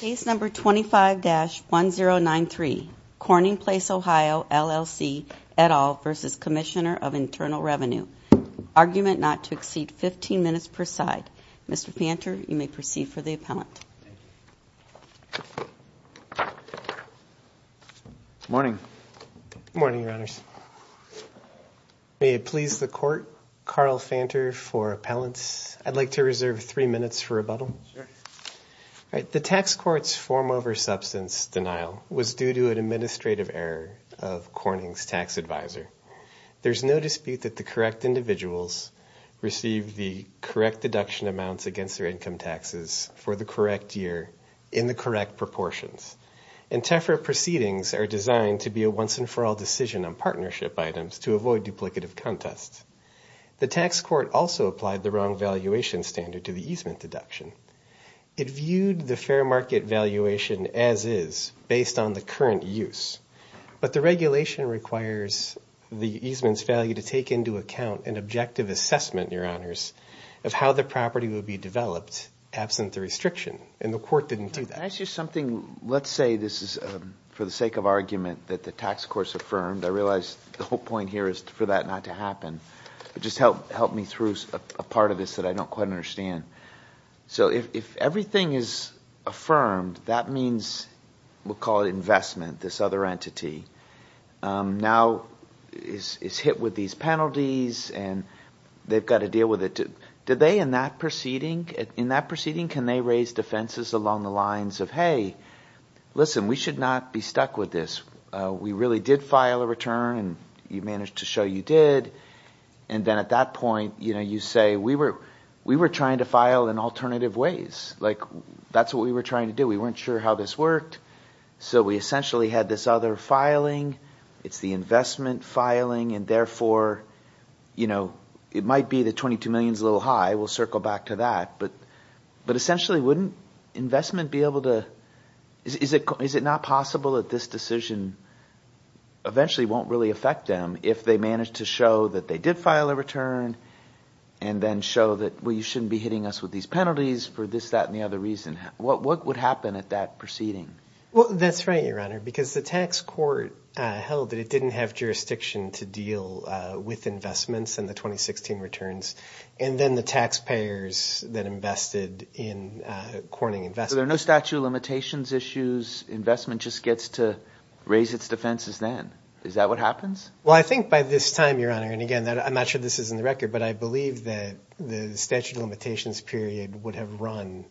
Case No. 25-1093, Corning Place, Ohio, LLC, et al. v. Commissioner of Internal Revenue. Argument not to exceed 15 minutes per side. Mr. Fanter, you may proceed for the appellant. Morning. Good morning, Your Honors. May it please the Court, Carl Fanter for appellants. I'd like to reserve three minutes for rebuttal. The tax court's form over substance denial was due to an administrative error of Corning's tax advisor. There's no dispute that the correct individuals received the correct deduction amounts against their income taxes for the correct year in the correct proportions. And TEFRA proceedings are designed to be a once-and-for-all decision on partnership items to avoid duplicative contests. The tax court also applied the wrong valuation standard to the easement deduction. It viewed the fair market valuation as-is based on the current use. But the regulation requires the easement's value to take into account an objective assessment, Your Honors, of how the property would be developed absent the restriction, and the court didn't do that. Can I ask you something? Let's say this is for the sake of argument that the tax court's affirmed. I realize the whole point here is for that not to happen. Just help me through a part of this that I don't quite understand. So if everything is affirmed, that means we'll call it investment, this other entity. Now it's hit with these penalties, and they've got to deal with it. Do they in that proceeding, in that proceeding, can they raise defenses along the lines of, hey, listen, we should not be stuck with this. We really did file a return, and you managed to show you did. And then at that point, you say we were trying to file in alternative ways. That's what we were trying to do. We weren't sure how this worked, so we essentially had this other filing. It's the investment filing, and therefore it might be the $22 million is a little high. We'll circle back to that. But essentially, wouldn't investment be able to – is it not possible that this decision eventually won't really affect them if they managed to show that they did file a return and then show that, well, you shouldn't be hitting us with these penalties for this, that, and the other reason? What would happen at that proceeding? Well, that's right, Your Honor, because the tax court held that it didn't have jurisdiction to deal with investments in the 2016 returns, and then the taxpayers that invested in corning investment. So there are no statute of limitations issues. Investment just gets to raise its defenses then. Is that what happens? Well, I think by this time, Your Honor, and again, I'm not sure this is in the record, but I believe that the statute of limitations period would have run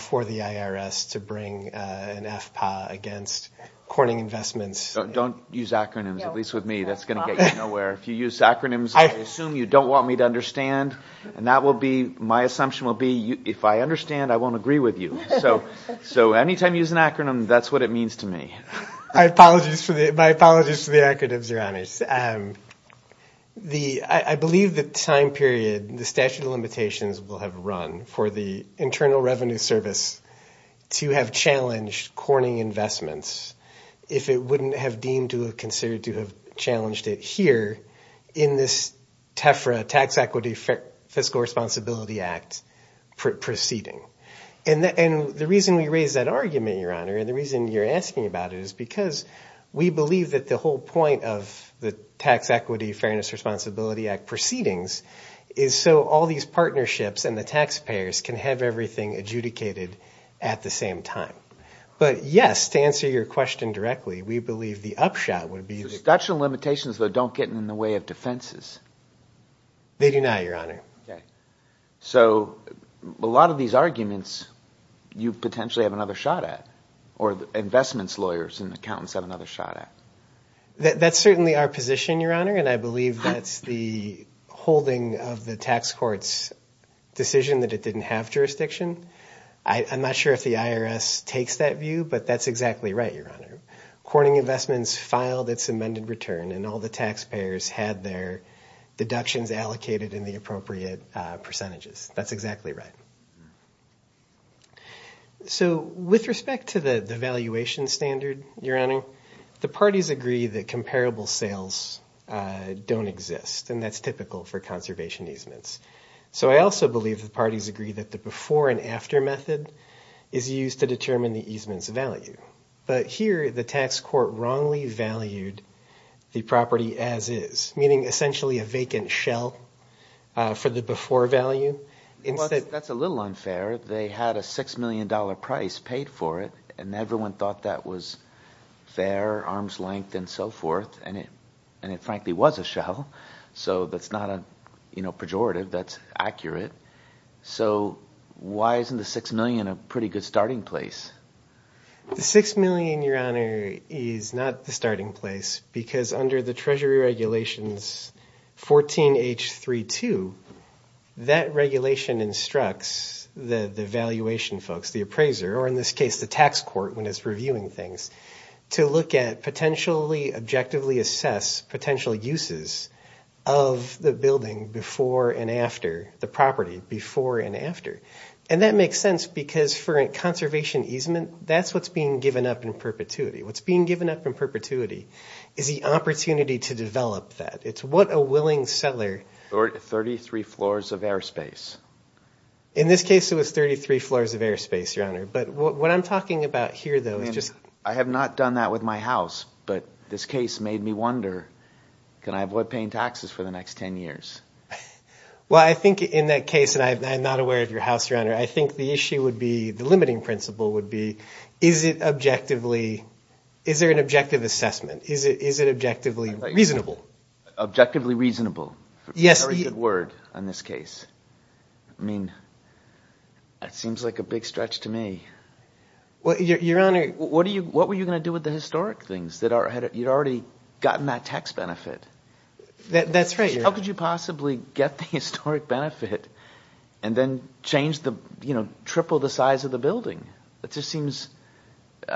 for the IRS to bring an FPA against corning investments. Don't use acronyms, at least with me. That's going to get you nowhere. If you use acronyms, I assume you don't want me to understand, and that will be – my assumption will be if I understand, I won't agree with you. So anytime you use an acronym, that's what it means to me. I apologize for the acronyms, Your Honors. I believe the time period the statute of limitations will have run for the Internal Revenue Service to have challenged corning investments if it wouldn't have deemed to have considered to have challenged it here in this TEFRA, Tax Equity Fiscal Responsibility Act proceeding. And the reason we raise that argument, Your Honor, and the reason you're asking about it is because we believe that the whole point of the Tax Equity Fairness Responsibility Act proceedings is so all these partnerships and the taxpayers can have everything adjudicated at the same time. But yes, to answer your question directly, we believe the upshot would be – The statute of limitations, though, don't get in the way of defenses. They do not, Your Honor. So a lot of these arguments you potentially have another shot at or investments lawyers and accountants have another shot at. That's certainly our position, Your Honor, and I believe that's the holding of the tax court's decision that it didn't have jurisdiction. I'm not sure if the IRS takes that view, but that's exactly right, Your Honor. Corning Investments filed its amended return, and all the taxpayers had their deductions allocated in the appropriate percentages. That's exactly right. So with respect to the valuation standard, Your Honor, the parties agree that comparable sales don't exist, and that's typical for conservation easements. So I also believe the parties agree that the before and after method is used to determine the easement's value. But here the tax court wrongly valued the property as is, meaning essentially a vacant shell for the before value. That's a little unfair. They had a $6 million price paid for it, and everyone thought that was fair, arm's length and so forth, and it frankly was a shell. So that's not a pejorative. That's accurate. So why isn't the $6 million a pretty good starting place? The $6 million, Your Honor, is not the starting place because under the Treasury Regulations 14.H.3.2, that regulation instructs the valuation folks, the appraiser, or in this case the tax court when it's reviewing things, to look at potentially objectively assess potential uses of the building before and after the property, before and after. And that makes sense because for a conservation easement, that's what's being given up in perpetuity. What's being given up in perpetuity is the opportunity to develop that. It's what a willing seller. 33 floors of airspace. In this case, it was 33 floors of airspace, Your Honor. But what I'm talking about here, though, is just – I have not done that with my house, but this case made me wonder, can I avoid paying taxes for the next 10 years? Well, I think in that case, and I'm not aware of your house, Your Honor, I think the issue would be – the limiting principle would be, is it objectively – is there an objective assessment? Is it objectively reasonable? Objectively reasonable. Yes. Very good word on this case. I mean, that seems like a big stretch to me. Your Honor, what were you going to do with the historic things? You'd already gotten that tax benefit. That's right. How could you possibly get the historic benefit and then change the – triple the size of the building? That just seems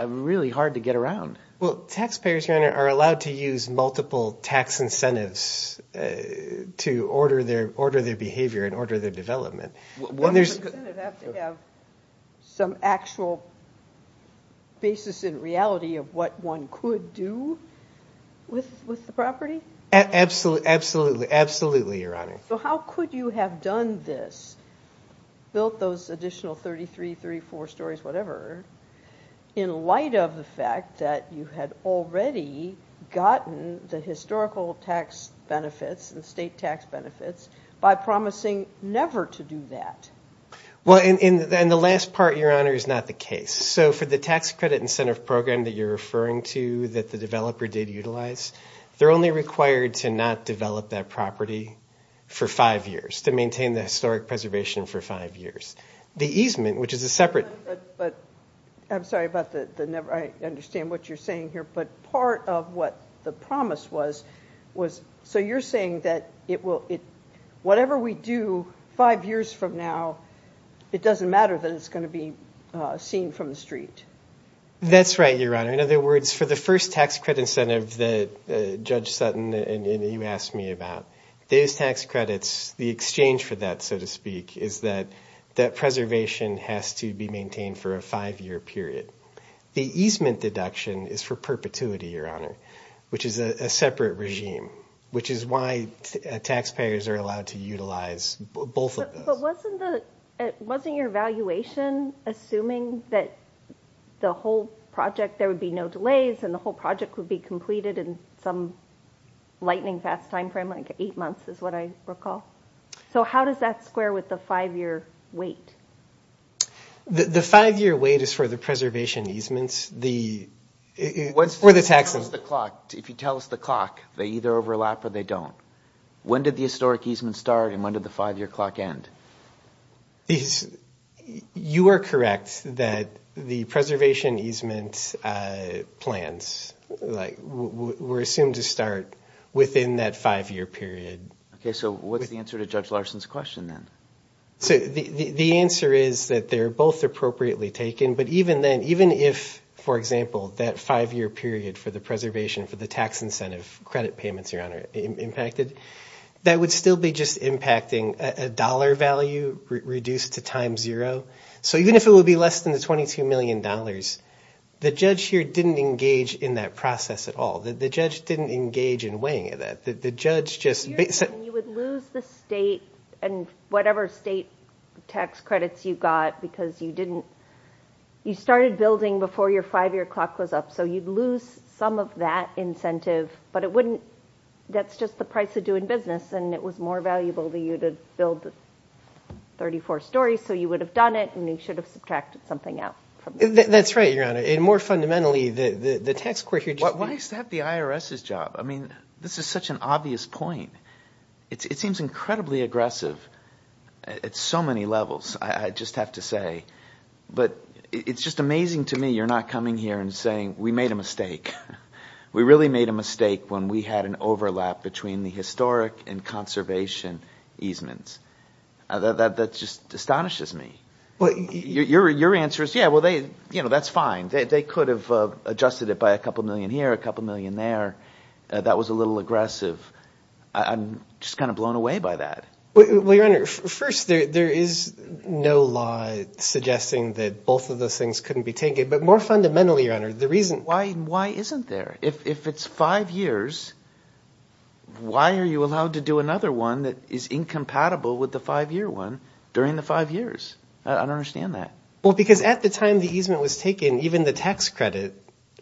really hard to get around. Well, taxpayers, Your Honor, are allowed to use multiple tax incentives to order their behavior and order their development. Wouldn't the incentive have to have some actual basis in reality of what one could do with the property? Absolutely. Absolutely, Your Honor. So how could you have done this, built those additional 33, 34 stories, whatever, in light of the fact that you had already gotten the historical tax benefits and state tax benefits by promising never to do that? Well, and the last part, Your Honor, is not the case. So for the tax credit incentive program that you're referring to that the developer did utilize, they're only required to not develop that property for five years, to maintain the historic preservation for five years. The easement, which is a separate – But I'm sorry about the – I understand what you're saying here. But part of what the promise was, was – so you're saying that it will – whatever we do five years from now, it doesn't matter that it's going to be seen from the street. That's right, Your Honor. In other words, for the first tax credit incentive that Judge Sutton and you asked me about, those tax credits, the exchange for that, so to speak, is that that preservation has to be maintained for a five-year period. The easement deduction is for perpetuity, Your Honor, which is a separate regime, which is why taxpayers are allowed to utilize both of those. But wasn't the – wasn't your evaluation assuming that the whole project – there would be no delays and the whole project would be completed in some lightning-fast time frame, like eight months is what I recall? So how does that square with the five-year wait? The five-year wait is for the preservation easements, the – for the taxes. If you tell us the clock, they either overlap or they don't. When did the historic easement start and when did the five-year clock end? You are correct that the preservation easement plans, like, were assumed to start within that five-year period. Okay, so what's the answer to Judge Larson's question then? So the answer is that they're both appropriately taken, but even then, even if, for example, that five-year period for the preservation for the tax incentive credit payments, Your Honor, impacted, that would still be just impacting a dollar value reduced to time zero. So even if it would be less than the $22 million, the judge here didn't engage in that process at all. The judge didn't engage in weighing that. The judge just – You would lose the state and whatever state tax credits you got because you didn't – you started building before your five-year clock was up, so you'd lose some of that incentive, but it wouldn't – that's just the price of doing business and it was more valuable to you to build 34 stories, so you would have done it and you should have subtracted something out. That's right, Your Honor, and more fundamentally, the tax – Why is that the IRS's job? I mean, this is such an obvious point. It seems incredibly aggressive at so many levels, I just have to say. But it's just amazing to me you're not coming here and saying we made a mistake. We really made a mistake when we had an overlap between the historic and conservation easements. That just astonishes me. Your answer is, yeah, well, that's fine. They could have adjusted it by a couple million here, a couple million there. That was a little aggressive. I'm just kind of blown away by that. Well, Your Honor, first, there is no law suggesting that both of those things couldn't be taken. But more fundamentally, Your Honor, the reason – Why isn't there? If it's five years, why are you allowed to do another one that is incompatible with the five-year one during the five years? I don't understand that. Well, because at the time the easement was taken, even the tax credit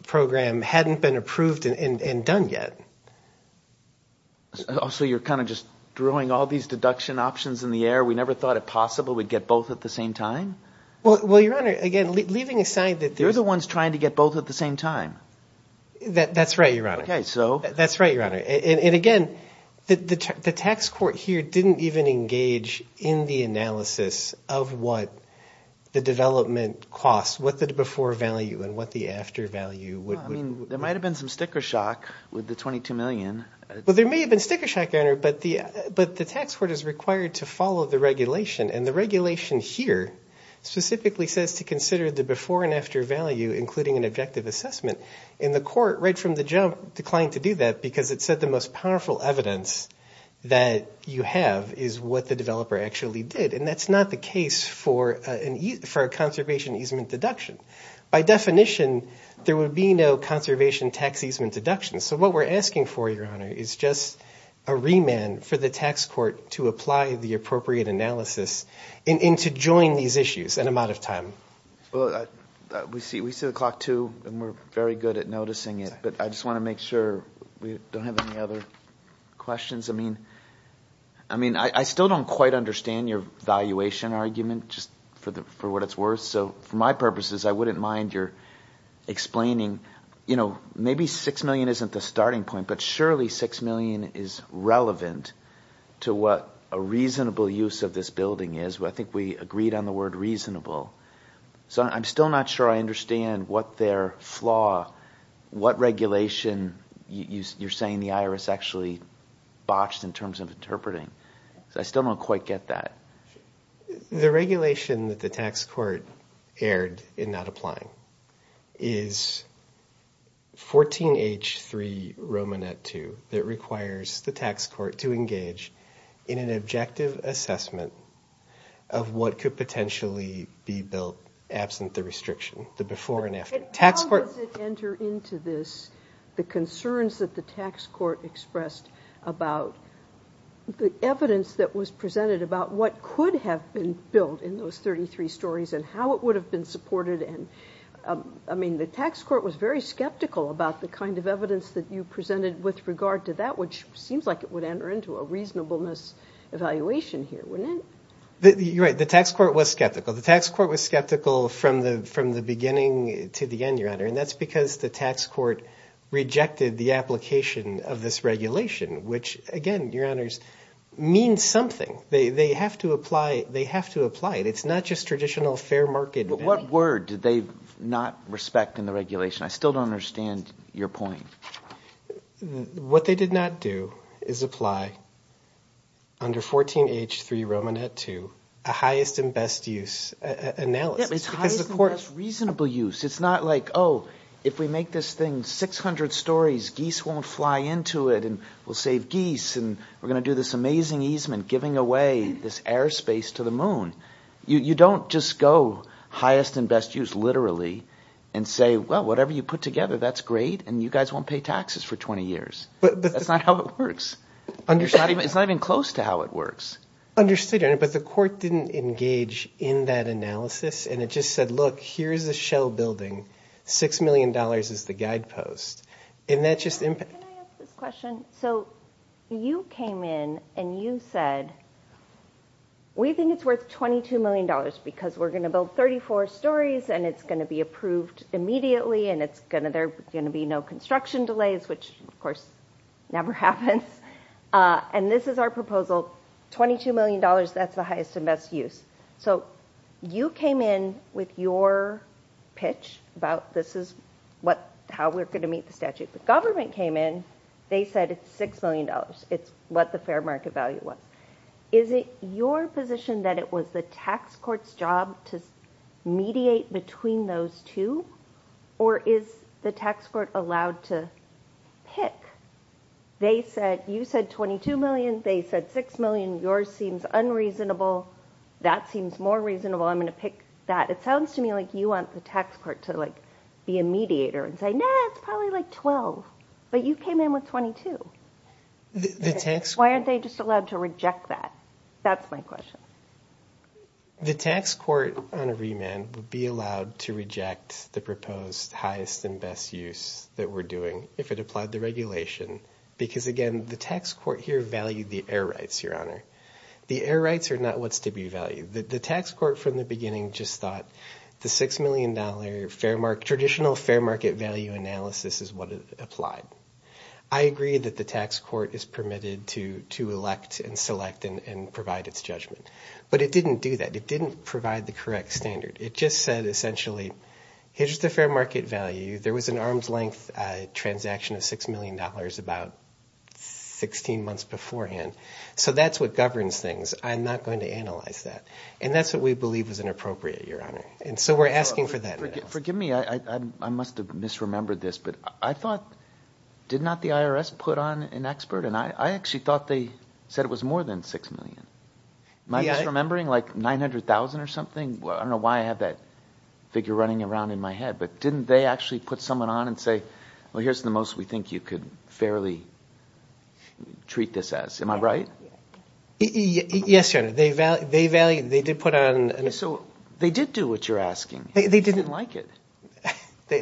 program hadn't been approved and done yet. So you're kind of just throwing all these deduction options in the air? We never thought it possible we'd get both at the same time? Well, Your Honor, again, leaving aside that – You're the ones trying to get both at the same time. That's right, Your Honor. Okay, so – That's right, Your Honor. And again, the tax court here didn't even engage in the analysis of what the development costs, what the before value and what the after value would – I mean, there might have been some sticker shock with the $22 million. Well, there may have been sticker shock, Your Honor, but the tax court is required to follow the regulation. And the regulation here specifically says to consider the before and after value, including an objective assessment. And the court, right from the jump, declined to do that because it said the most powerful evidence that you have is what the developer actually did. And that's not the case for a conservation easement deduction. By definition, there would be no conservation tax easement deduction. So what we're asking for, Your Honor, is just a remand for the tax court to apply the appropriate analysis and to join these issues. And I'm out of time. Well, we see the clock, too, and we're very good at noticing it. But I just want to make sure we don't have any other questions. I mean, I still don't quite understand your valuation argument just for what it's worth. So for my purposes, I wouldn't mind your explaining, you know, maybe $6 million isn't the starting point. But surely $6 million is relevant to what a reasonable use of this building is. I think we agreed on the word reasonable. So I'm still not sure I understand what their flaw, what regulation you're saying the IRS actually botched in terms of interpreting. I still don't quite get that. The regulation that the tax court erred in not applying is 14H3R2 that requires the tax court to engage in an objective assessment of what could potentially be built absent the restriction, the before and after. How does it enter into this, the concerns that the tax court expressed about the evidence that was presented about what could have been built in those 33 stories and how it would have been supported? I mean, the tax court was very skeptical about the kind of evidence that you presented with regard to that, which seems like it would enter into a reasonableness evaluation here, wouldn't it? You're right. The tax court was skeptical. The tax court was skeptical from the beginning to the end, Your Honor, and that's because the tax court rejected the application of this regulation, which, again, Your Honors, means something. They have to apply it. It's not just traditional fair market. But what word did they not respect in the regulation? I still don't understand your point. What they did not do is apply under 14H3R2 a highest and best use analysis. It's highest and best reasonable use. It's not like, oh, if we make this thing 600 stories, geese won't fly into it and we'll save geese and we're going to do this amazing easement giving away this airspace to the moon. You don't just go highest and best use literally and say, well, whatever you put together, that's great and you guys won't pay taxes for 20 years. That's not how it works. It's not even close to how it works. Understood, Your Honor, but the court didn't engage in that analysis and it just said, look, here's a shell building, $6 million is the guidepost. Can I ask this question? You came in and you said, we think it's worth $22 million because we're going to build 34 stories and it's going to be approved immediately and there's going to be no construction delays, which, of course, never happens. And this is our proposal, $22 million, that's the highest and best use. So you came in with your pitch about this is how we're going to meet the statute. The government came in. They said it's $6 million. It's what the fair market value was. Is it your position that it was the tax court's job to mediate between those two? Or is the tax court allowed to pick? They said you said $22 million. They said $6 million. Yours seems unreasonable. That seems more reasonable. I'm going to pick that. It sounds to me like you want the tax court to be a mediator and say, no, it's probably like $12. But you came in with $22. Why aren't they just allowed to reject that? That's my question. The tax court on a remand would be allowed to reject the proposed highest and best use that we're doing if it applied the regulation because, again, the tax court here valued the air rights, Your Honor. The air rights are not what's to be valued. The tax court from the beginning just thought the $6 million fair market, traditional fair market value analysis is what applied. I agree that the tax court is permitted to elect and select and provide its judgment. But it didn't do that. It didn't provide the correct standard. It just said essentially here's the fair market value. There was an arm's length transaction of $6 million about 16 months beforehand. So that's what governs things. I'm not going to analyze that. And that's what we believe is inappropriate, Your Honor. And so we're asking for that analysis. Forgive me. I must have misremembered this. But I thought, did not the IRS put on an expert? And I actually thought they said it was more than $6 million. Am I misremembering like $900,000 or something? I don't know why I have that figure running around in my head. But didn't they actually put someone on and say, well, here's the most we think you could fairly treat this as? Am I right? Yes, Your Honor. They did put on an expert. So they did do what you're asking. They didn't like it. They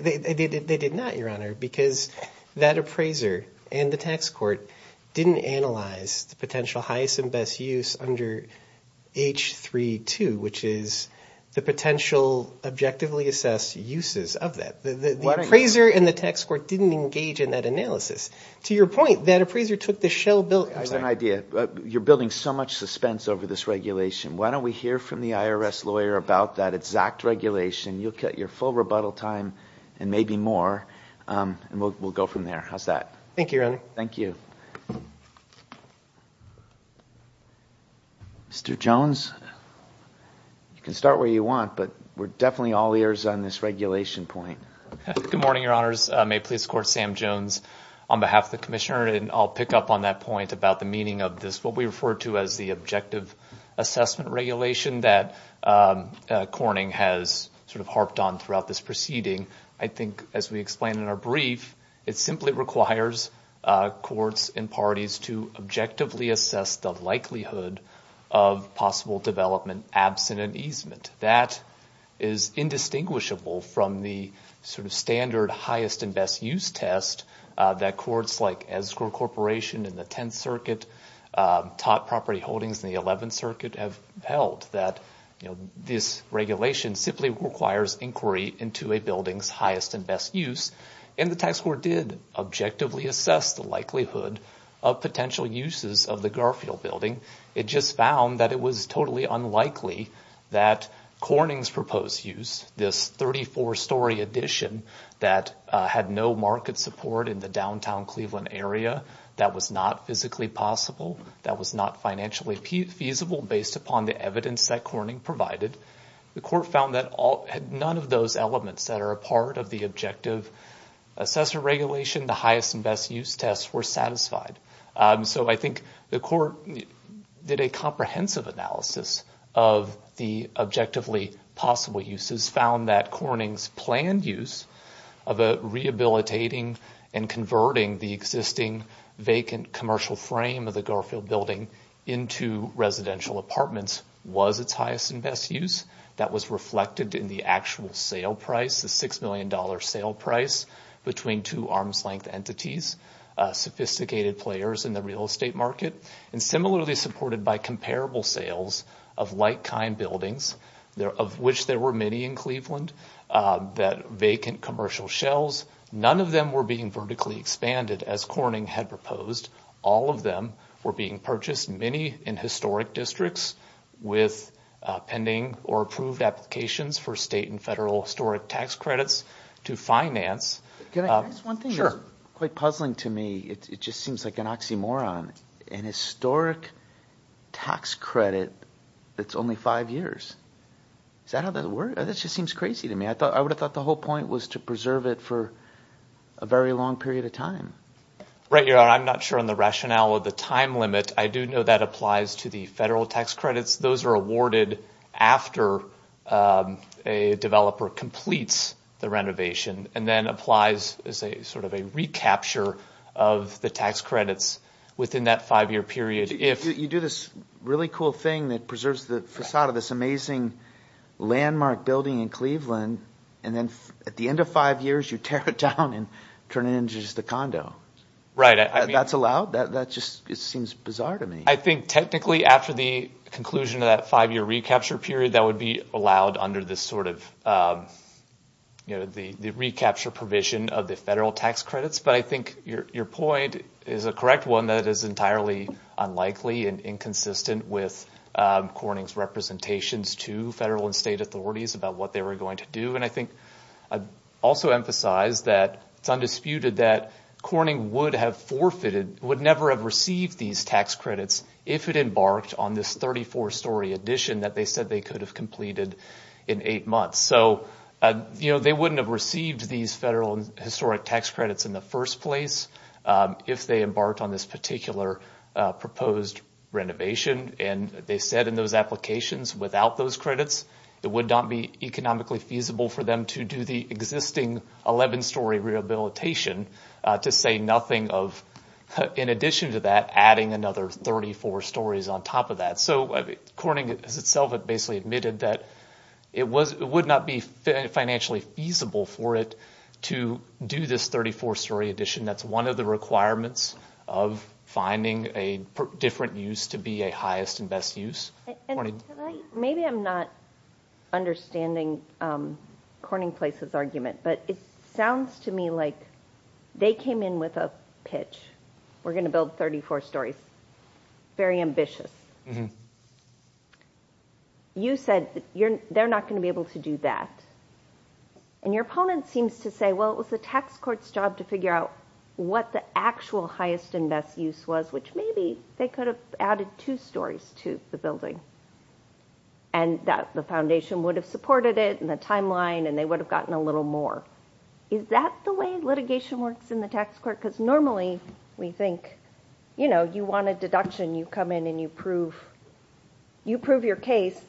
did not, Your Honor, because that appraiser and the tax court didn't analyze the potential highest and best use under H-3-2, which is the potential objectively assessed uses of that. The appraiser and the tax court didn't engage in that analysis. To your point, that appraiser took the shell bill. I have an idea. You're building so much suspense over this regulation. Why don't we hear from the IRS lawyer about that exact regulation? You'll get your full rebuttal time and maybe more, and we'll go from there. How's that? Thank you, Your Honor. Thank you. Mr. Jones, you can start where you want, but we're definitely all ears on this regulation point. Good morning, Your Honors. May it please the Court, Sam Jones on behalf of the Commissioner, and I'll pick up on that point about the meaning of this, what we refer to as the objective assessment regulation that Corning has sort of harped on throughout this proceeding. I think, as we explained in our brief, it simply requires courts and parties to objectively assess the likelihood of possible development absent an easement. That is indistinguishable from the sort of standard highest and best use test that courts like Escort Corporation and the Tenth Circuit, Tott Property Holdings, and the Eleventh Circuit have held, that this regulation simply requires inquiry into a building's highest and best use, and the tax court did objectively assess the likelihood of potential uses of the Garfield building. It just found that it was totally unlikely that Corning's proposed use, this 34-story addition that had no market support in the downtown Cleveland area, that was not physically possible, that was not financially feasible based upon the evidence that Corning provided, the court found that none of those elements that are a part of the objective assessment regulation, the highest and best use tests, were satisfied. So I think the court did a comprehensive analysis of the objectively possible uses, found that Corning's planned use of rehabilitating and converting the existing vacant commercial frame of the Garfield building into residential apartments was its highest and best use. That was reflected in the actual sale price, the $6 million sale price, between two arm's length entities, sophisticated players in the real estate market, and similarly supported by comparable sales of like-kind buildings, of which there were many in Cleveland, that vacant commercial shells, none of them were being vertically expanded as Corning had proposed. All of them were being purchased, many in historic districts, with pending or approved applications for state and federal historic tax credits to finance. One thing that's quite puzzling to me, it just seems like an oxymoron, an historic tax credit that's only five years. Is that how that works? That just seems crazy to me. I would have thought the whole point was to preserve it for a very long period of time. Right, I'm not sure on the rationale of the time limit. I do know that applies to the federal tax credits. Those are awarded after a developer completes the renovation and then applies as sort of a recapture of the tax credits within that five-year period. You do this really cool thing that preserves the facade of this amazing landmark building in Cleveland, and then at the end of five years, you tear it down and turn it into just a condo. Right. That's allowed? That just seems bizarre to me. I think technically after the conclusion of that five-year recapture period, that would be allowed under the recapture provision of the federal tax credits. But I think your point is a correct one that is entirely unlikely and inconsistent with Corning's representations to federal and state authorities about what they were going to do. I think I'd also emphasize that it's undisputed that Corning would have forfeited, would never have received these tax credits if it embarked on this 34-story addition that they said they could have completed in eight months. So they wouldn't have received these federal and historic tax credits in the first place if they embarked on this particular proposed renovation, and they said in those applications without those credits, it would not be economically feasible for them to do the existing 11-story rehabilitation to say nothing of, in addition to that, adding another 34 stories on top of that. So Corning as itself had basically admitted that it would not be financially feasible for it to do this 34-story addition. That's one of the requirements of finding a different use to be a highest and best use. Maybe I'm not understanding Corning Place's argument, but it sounds to me like they came in with a pitch. We're going to build 34 stories. Very ambitious. You said they're not going to be able to do that, and your opponent seems to say, well, it was the tax court's job to figure out what the actual highest and best use was, which maybe they could have added two stories to the building, and the foundation would have supported it and the timeline, and they would have gotten a little more. Is that the way litigation works in the tax court? Because normally we think, you know, you want a deduction. You come in and you prove your case.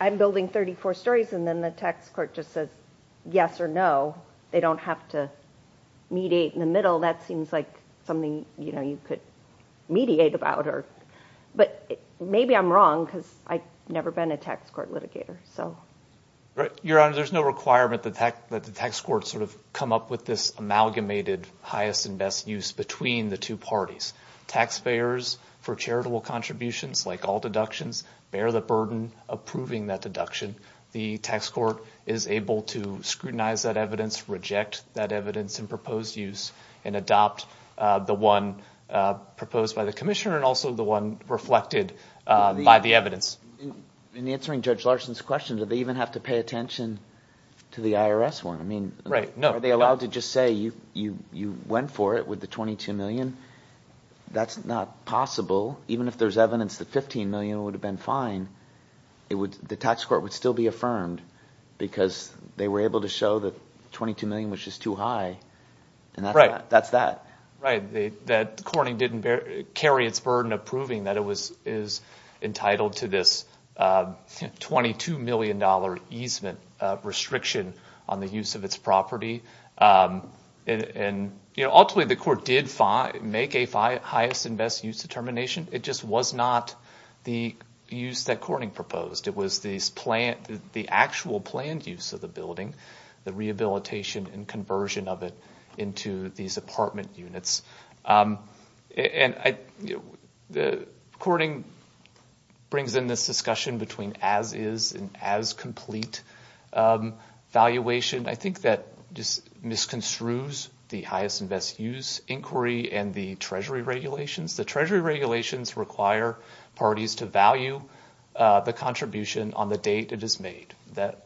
I'm building 34 stories, and then the tax court just says yes or no. They don't have to mediate in the middle. That seems like something you could mediate about. But maybe I'm wrong because I've never been a tax court litigator. Your Honor, there's no requirement that the tax court sort of come up with this amalgamated highest and best use between the two parties. Taxpayers for charitable contributions, like all deductions, bear the burden of proving that deduction. The tax court is able to scrutinize that evidence, reject that evidence in proposed use, and adopt the one proposed by the commissioner and also the one reflected by the evidence. In answering Judge Larson's question, do they even have to pay attention to the IRS one? I mean, are they allowed to just say you went for it with the $22 million? That's not possible. Even if there's evidence that $15 million would have been fine, the tax court would still be affirmed because they were able to show that $22 million was just too high. And that's that. Right. Corning didn't carry its burden of proving that it was entitled to this $22 million easement restriction on the use of its property. Ultimately, the court did make a highest and best use determination. It just was not the use that Corning proposed. It was the actual planned use of the building, the rehabilitation and conversion of it into these apartment units. And Corning brings in this discussion between as-is and as-complete valuation. I think that just misconstrues the highest and best use inquiry and the Treasury regulations. The Treasury regulations require parties to value the contribution on the date it is made, that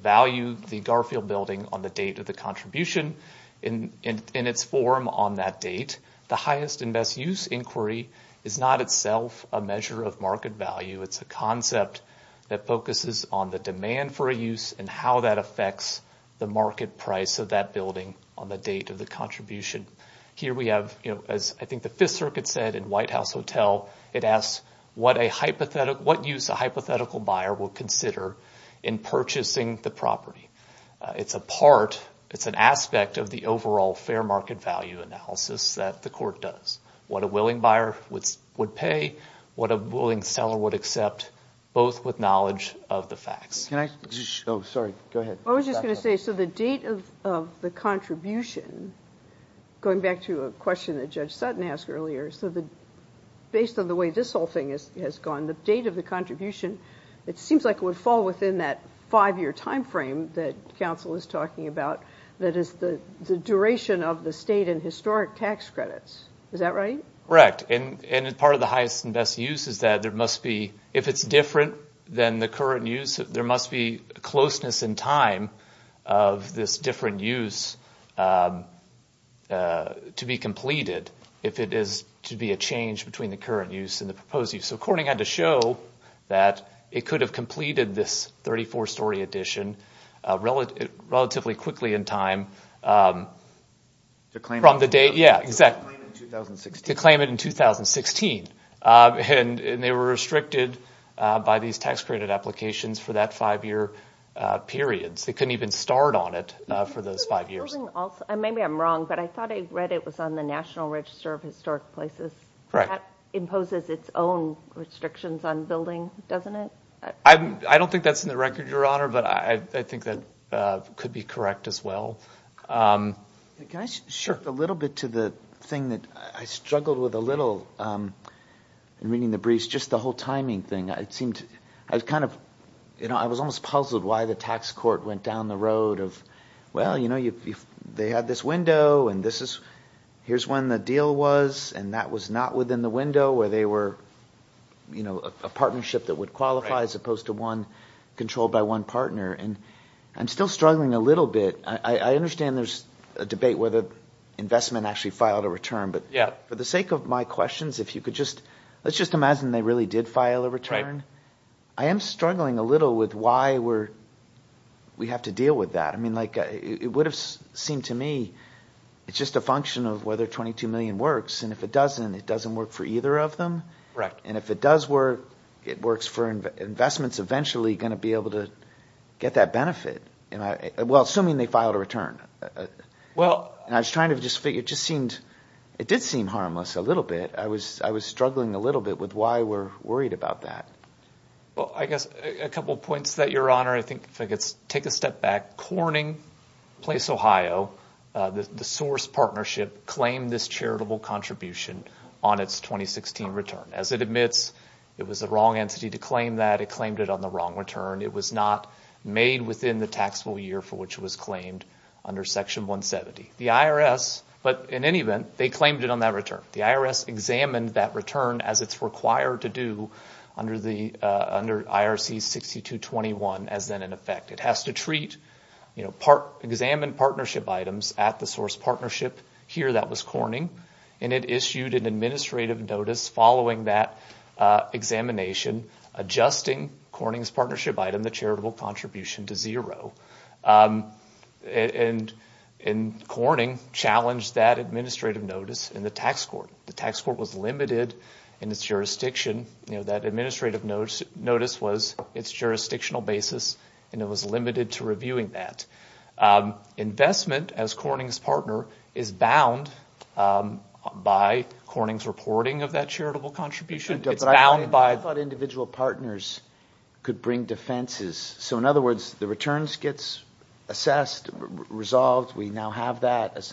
value the Garfield Building on the date of the contribution in its form on that date. The highest and best use inquiry is not itself a measure of market value. It's a concept that focuses on the demand for a use and how that affects the market price of that building on the date of the contribution. Here we have, as I think the Fifth Circuit said in White House Hotel, it asks what use a hypothetical buyer will consider in purchasing the property. It's an aspect of the overall fair market value analysis that the court does. What a willing buyer would pay, what a willing seller would accept, both with knowledge of the facts. Sorry, go ahead. I was just going to say, so the date of the contribution, going back to a question that Judge Sutton asked earlier, so based on the way this whole thing has gone, the date of the contribution, it seems like it would fall within that five-year timeframe that counsel is talking about that is the duration of the state and historic tax credits. Is that right? Correct. And part of the highest and best use is that there must be, if it's different than the current use, there must be closeness in time of this different use to be completed if it is to be a change between the current use and the proposed use. So Corning had to show that it could have completed this 34-story addition relatively quickly in time from the date. To claim it in 2016. To claim it in 2016. And they were restricted by these tax credit applications for that five-year period. They couldn't even start on it for those five years. Maybe I'm wrong, but I thought I read it was on the National Register of Historic Places. Correct. That imposes its own restrictions on building, doesn't it? I don't think that's in the record, Your Honor, but I think that could be correct as well. Can I shift a little bit to the thing that I struggled with a little in reading the briefs, just the whole timing thing. I was almost puzzled why the tax court went down the road of, well, they had this window and here's when the deal was, and that was not within the window, where they were a partnership that would qualify as opposed to one controlled by one partner. And I'm still struggling a little bit. I understand there's a debate whether investment actually filed a return, but for the sake of my questions, let's just imagine they really did file a return. I am struggling a little with why we have to deal with that. It would have seemed to me it's just a function of whether 22 million works, and if it doesn't, it doesn't work for either of them. And if it does work, it works for investments eventually going to be able to get that benefit. Well, assuming they filed a return. And I was trying to just figure, it did seem harmless a little bit. I was struggling a little bit with why we're worried about that. Well, I guess a couple of points to that, Your Honor. I think if I could take a step back. Corning Place, Ohio, the source partnership, claimed this charitable contribution on its 2016 return. As it admits, it was the wrong entity to claim that. It claimed it on the wrong return. It was not made within the taxable year for which it was claimed under Section 170. The IRS, but in any event, they claimed it on that return. The IRS examined that return as it's required to do under IRC 6221 as then in effect. It has to treat, examine partnership items at the source partnership. Here that was Corning, and it issued an administrative notice following that examination, adjusting Corning's partnership item, the charitable contribution, to zero. And Corning challenged that administrative notice in the tax court. The tax court was limited in its jurisdiction. That administrative notice was its jurisdictional basis, and it was limited to reviewing that. Investment as Corning's partner is bound by Corning's reporting of that charitable contribution. It's bound by- I thought individual partners could bring defenses. So in other words, the returns gets assessed, resolved. We now have that.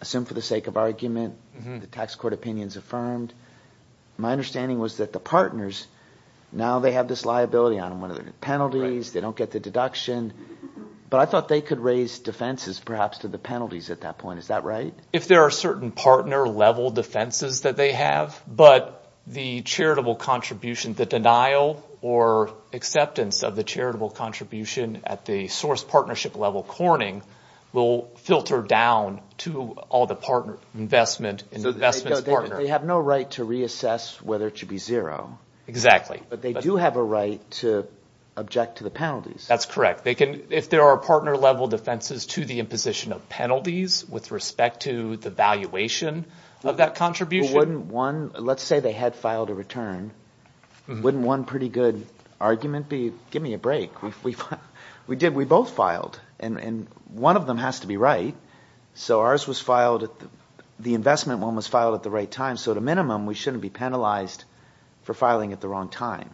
Assume for the sake of argument, the tax court opinion is affirmed. My understanding was that the partners, now they have this liability on them. One of the penalties, they don't get the deduction. But I thought they could raise defenses perhaps to the penalties at that point. Is that right? If there are certain partner-level defenses that they have, but the charitable contribution, the denial or acceptance of the charitable contribution at the source partnership level Corning will filter down to all the investment's partner. They have no right to reassess whether it should be zero. Exactly. But they do have a right to object to the penalties. That's correct. If there are partner-level defenses to the imposition of penalties with respect to the valuation of that contribution- Let's say they had filed a return. Wouldn't one pretty good argument be give me a break? We did. We both filed, and one of them has to be right. So ours was filed at the-the investment one was filed at the right time. So at a minimum, we shouldn't be penalized for filing at the wrong time.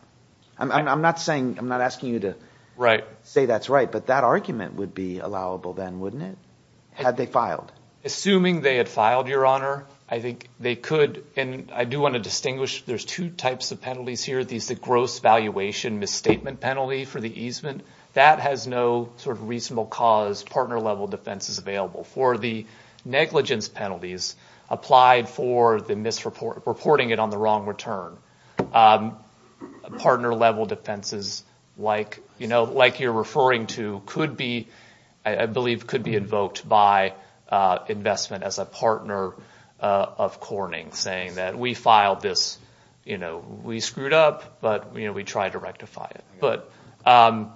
I'm not asking you to say that's right, but that argument would be allowable then, wouldn't it? Had they filed. Assuming they had filed, Your Honor, I think they could. And I do want to distinguish there's two types of penalties here. There's the gross valuation misstatement penalty for the easement. That has no sort of reasonable cause partner-level defenses available. For the negligence penalties applied for the misreporting it on the wrong return. Partner-level defenses like, you know, like you're referring to could be-I believe could be invoked by investment as a partner of Corning. Saying that we filed this, you know, we screwed up, but, you know, we tried to rectify it. But I'll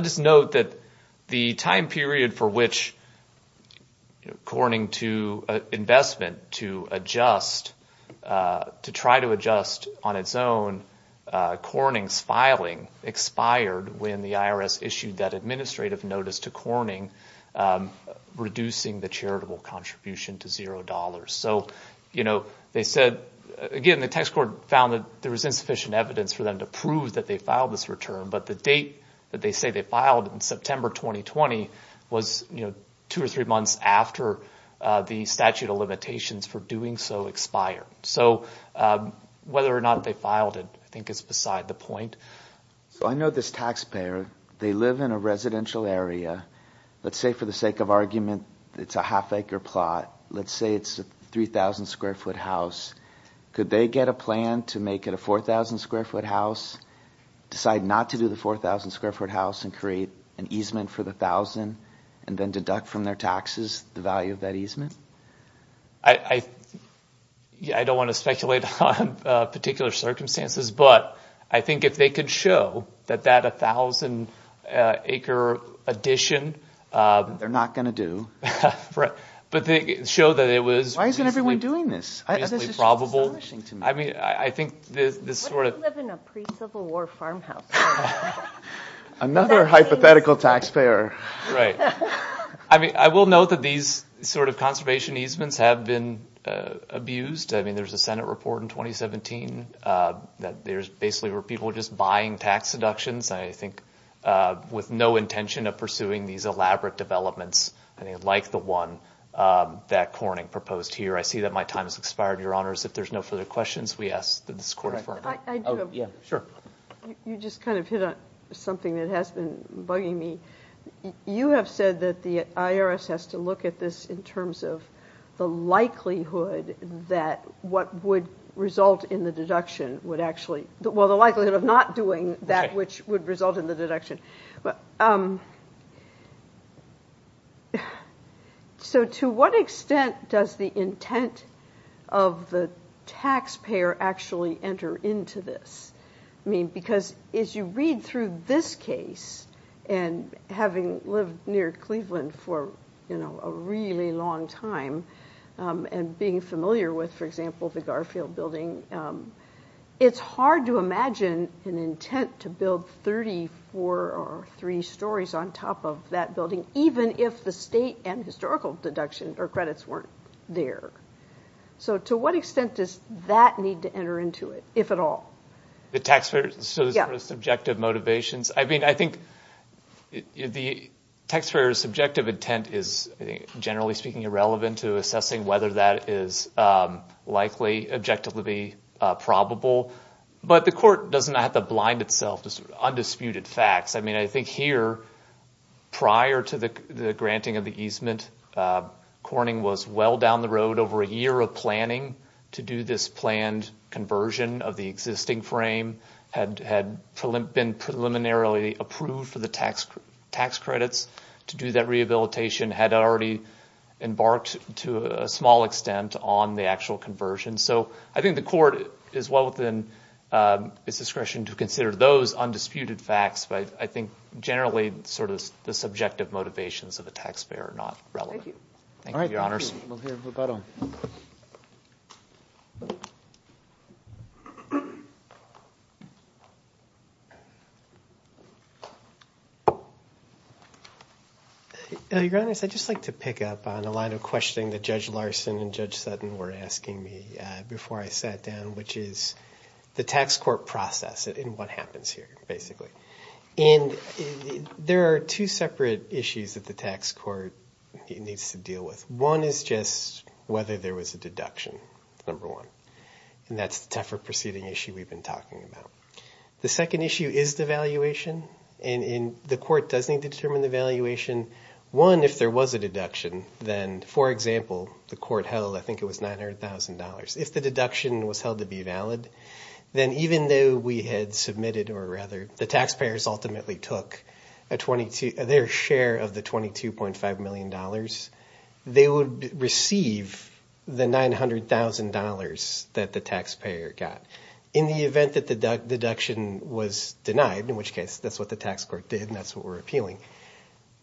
just note that the time period for which Corning to investment to adjust-to try to adjust on its own, Corning's filing expired when the IRS issued that administrative notice to Corning reducing the charitable contribution to $0. So, you know, they said-again, the tax court found that there was insufficient evidence for them to prove that they filed this return. But the date that they say they filed in September 2020 was, you know, two or three months after the statute of limitations for doing so expired. So whether or not they filed it I think is beside the point. So I know this taxpayer. They live in a residential area. Let's say for the sake of argument it's a half-acre plot. Let's say it's a 3,000-square-foot house. Could they get a plan to make it a 4,000-square-foot house, decide not to do the 4,000-square-foot house, and create an easement for the 1,000 and then deduct from their taxes the value of that easement? I don't want to speculate on particular circumstances, but I think if they could show that that 1,000-acre addition- They're not going to do. But they show that it was reasonably probable. I mean, I think this sort of- What if you live in a pre-Civil War farmhouse? Another hypothetical taxpayer. Right. I mean, I will note that these sort of conservation easements have been abused. I mean, there's a Senate report in 2017 that there's basically where people are just buying tax deductions, and I think with no intention of pursuing these elaborate developments like the one that Corning proposed here. I see that my time has expired. Your Honors, if there's no further questions, we ask that this Court- I do have- Yeah, sure. You just kind of hit on something that has been bugging me. You have said that the IRS has to look at this in terms of the likelihood that what would result in the deduction would actually- Would result in the deduction. So to what extent does the intent of the taxpayer actually enter into this? I mean, because as you read through this case, and having lived near Cleveland for a really long time, and being familiar with, for example, the Garfield Building, it's hard to imagine an intent to build 34 or three stories on top of that building, even if the state and historical deduction or credits weren't there. So to what extent does that need to enter into it, if at all? The taxpayer's sort of subjective motivations? I mean, I think the taxpayer's subjective intent is, generally speaking, irrelevant to assessing whether that is likely, objectively probable, but the Court doesn't have to blind itself to undisputed facts. I mean, I think here, prior to the granting of the easement, Corning was well down the road over a year of planning to do this planned conversion of the existing frame, had been preliminarily approved for the tax credits to do that rehabilitation, had already embarked to a small extent on the actual conversion. So I think the Court is well within its discretion to consider those undisputed facts, but I think generally sort of the subjective motivations of the taxpayer are not relevant. Thank you, Your Honors. We'll hear rebuttal. Your Honors, I'd just like to pick up on a line of questioning that Judge Larson and Judge Sutton were asking me before I sat down, which is the tax court process and what happens here, basically. And there are two separate issues that the tax court needs to deal with. One is just whether there was a deduction, number one, and that's the tougher proceeding issue we've been talking about. The second issue is devaluation, and the Court does need to determine the valuation. One, if there was a deduction, then, for example, the Court held, I think it was $900,000. If the deduction was held to be valid, then even though we had submitted or rather the taxpayers ultimately took their share of the $22.5 million, they would receive the $900,000 that the taxpayer got. In the event that the deduction was denied, in which case that's what the tax court did and that's what we're appealing,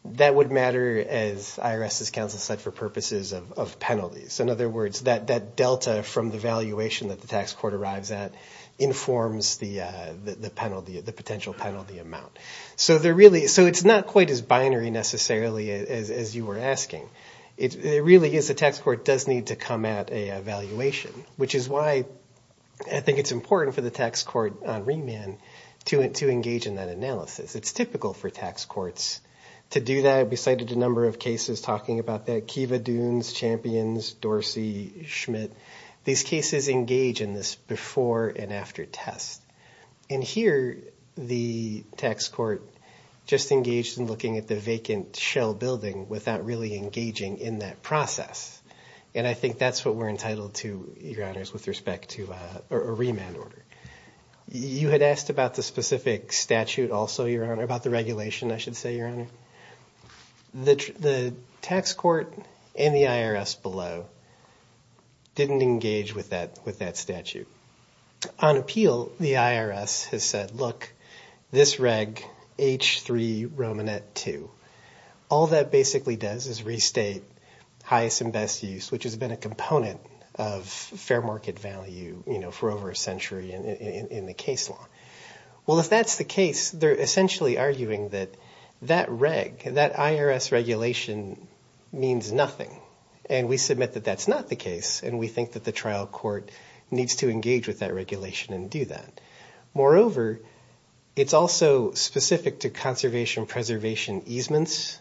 that would matter, as IRS's counsel said, for purposes of penalties. In other words, that delta from the valuation that the tax court arrives at informs the penalty, the potential penalty amount. So it's not quite as binary necessarily as you were asking. It really is the tax court does need to come at a valuation, which is why I think it's important for the tax court on remand to engage in that analysis. It's typical for tax courts to do that. We cited a number of cases talking about that, Kiva, Dunes, Champions, Dorsey, Schmidt. These cases engage in this before and after test. And here, the tax court just engaged in looking at the vacant shell building without really engaging in that process. And I think that's what we're entitled to, Your Honors, with respect to a remand order. You had asked about the specific statute also, Your Honor, about the regulation, I should say, Your Honor. The tax court and the IRS below didn't engage with that statute. On appeal, the IRS has said, look, this reg H3 Romanet 2, all that basically does is restate highest and best use, which has been a component of fair market value for over a century in the case law. Well, if that's the case, they're essentially arguing that that reg, that IRS regulation means nothing. And we submit that that's not the case, and we think that the trial court needs to engage with that regulation and do that. Moreover, it's also specific to conservation preservation easements,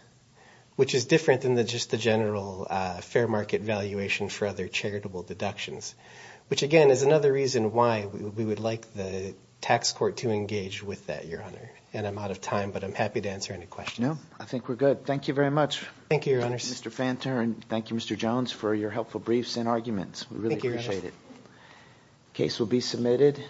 which is different than just the general fair market valuation for other charitable deductions, which, again, is another reason why we would like the tax court to engage with that, Your Honor. And I'm out of time, but I'm happy to answer any questions. No, I think we're good. Thank you very much. Thank you, Your Honors. Thank you, Mr. Fanter, and thank you, Mr. Jones, for your helpful briefs and arguments. We really appreciate it. The case will be submitted.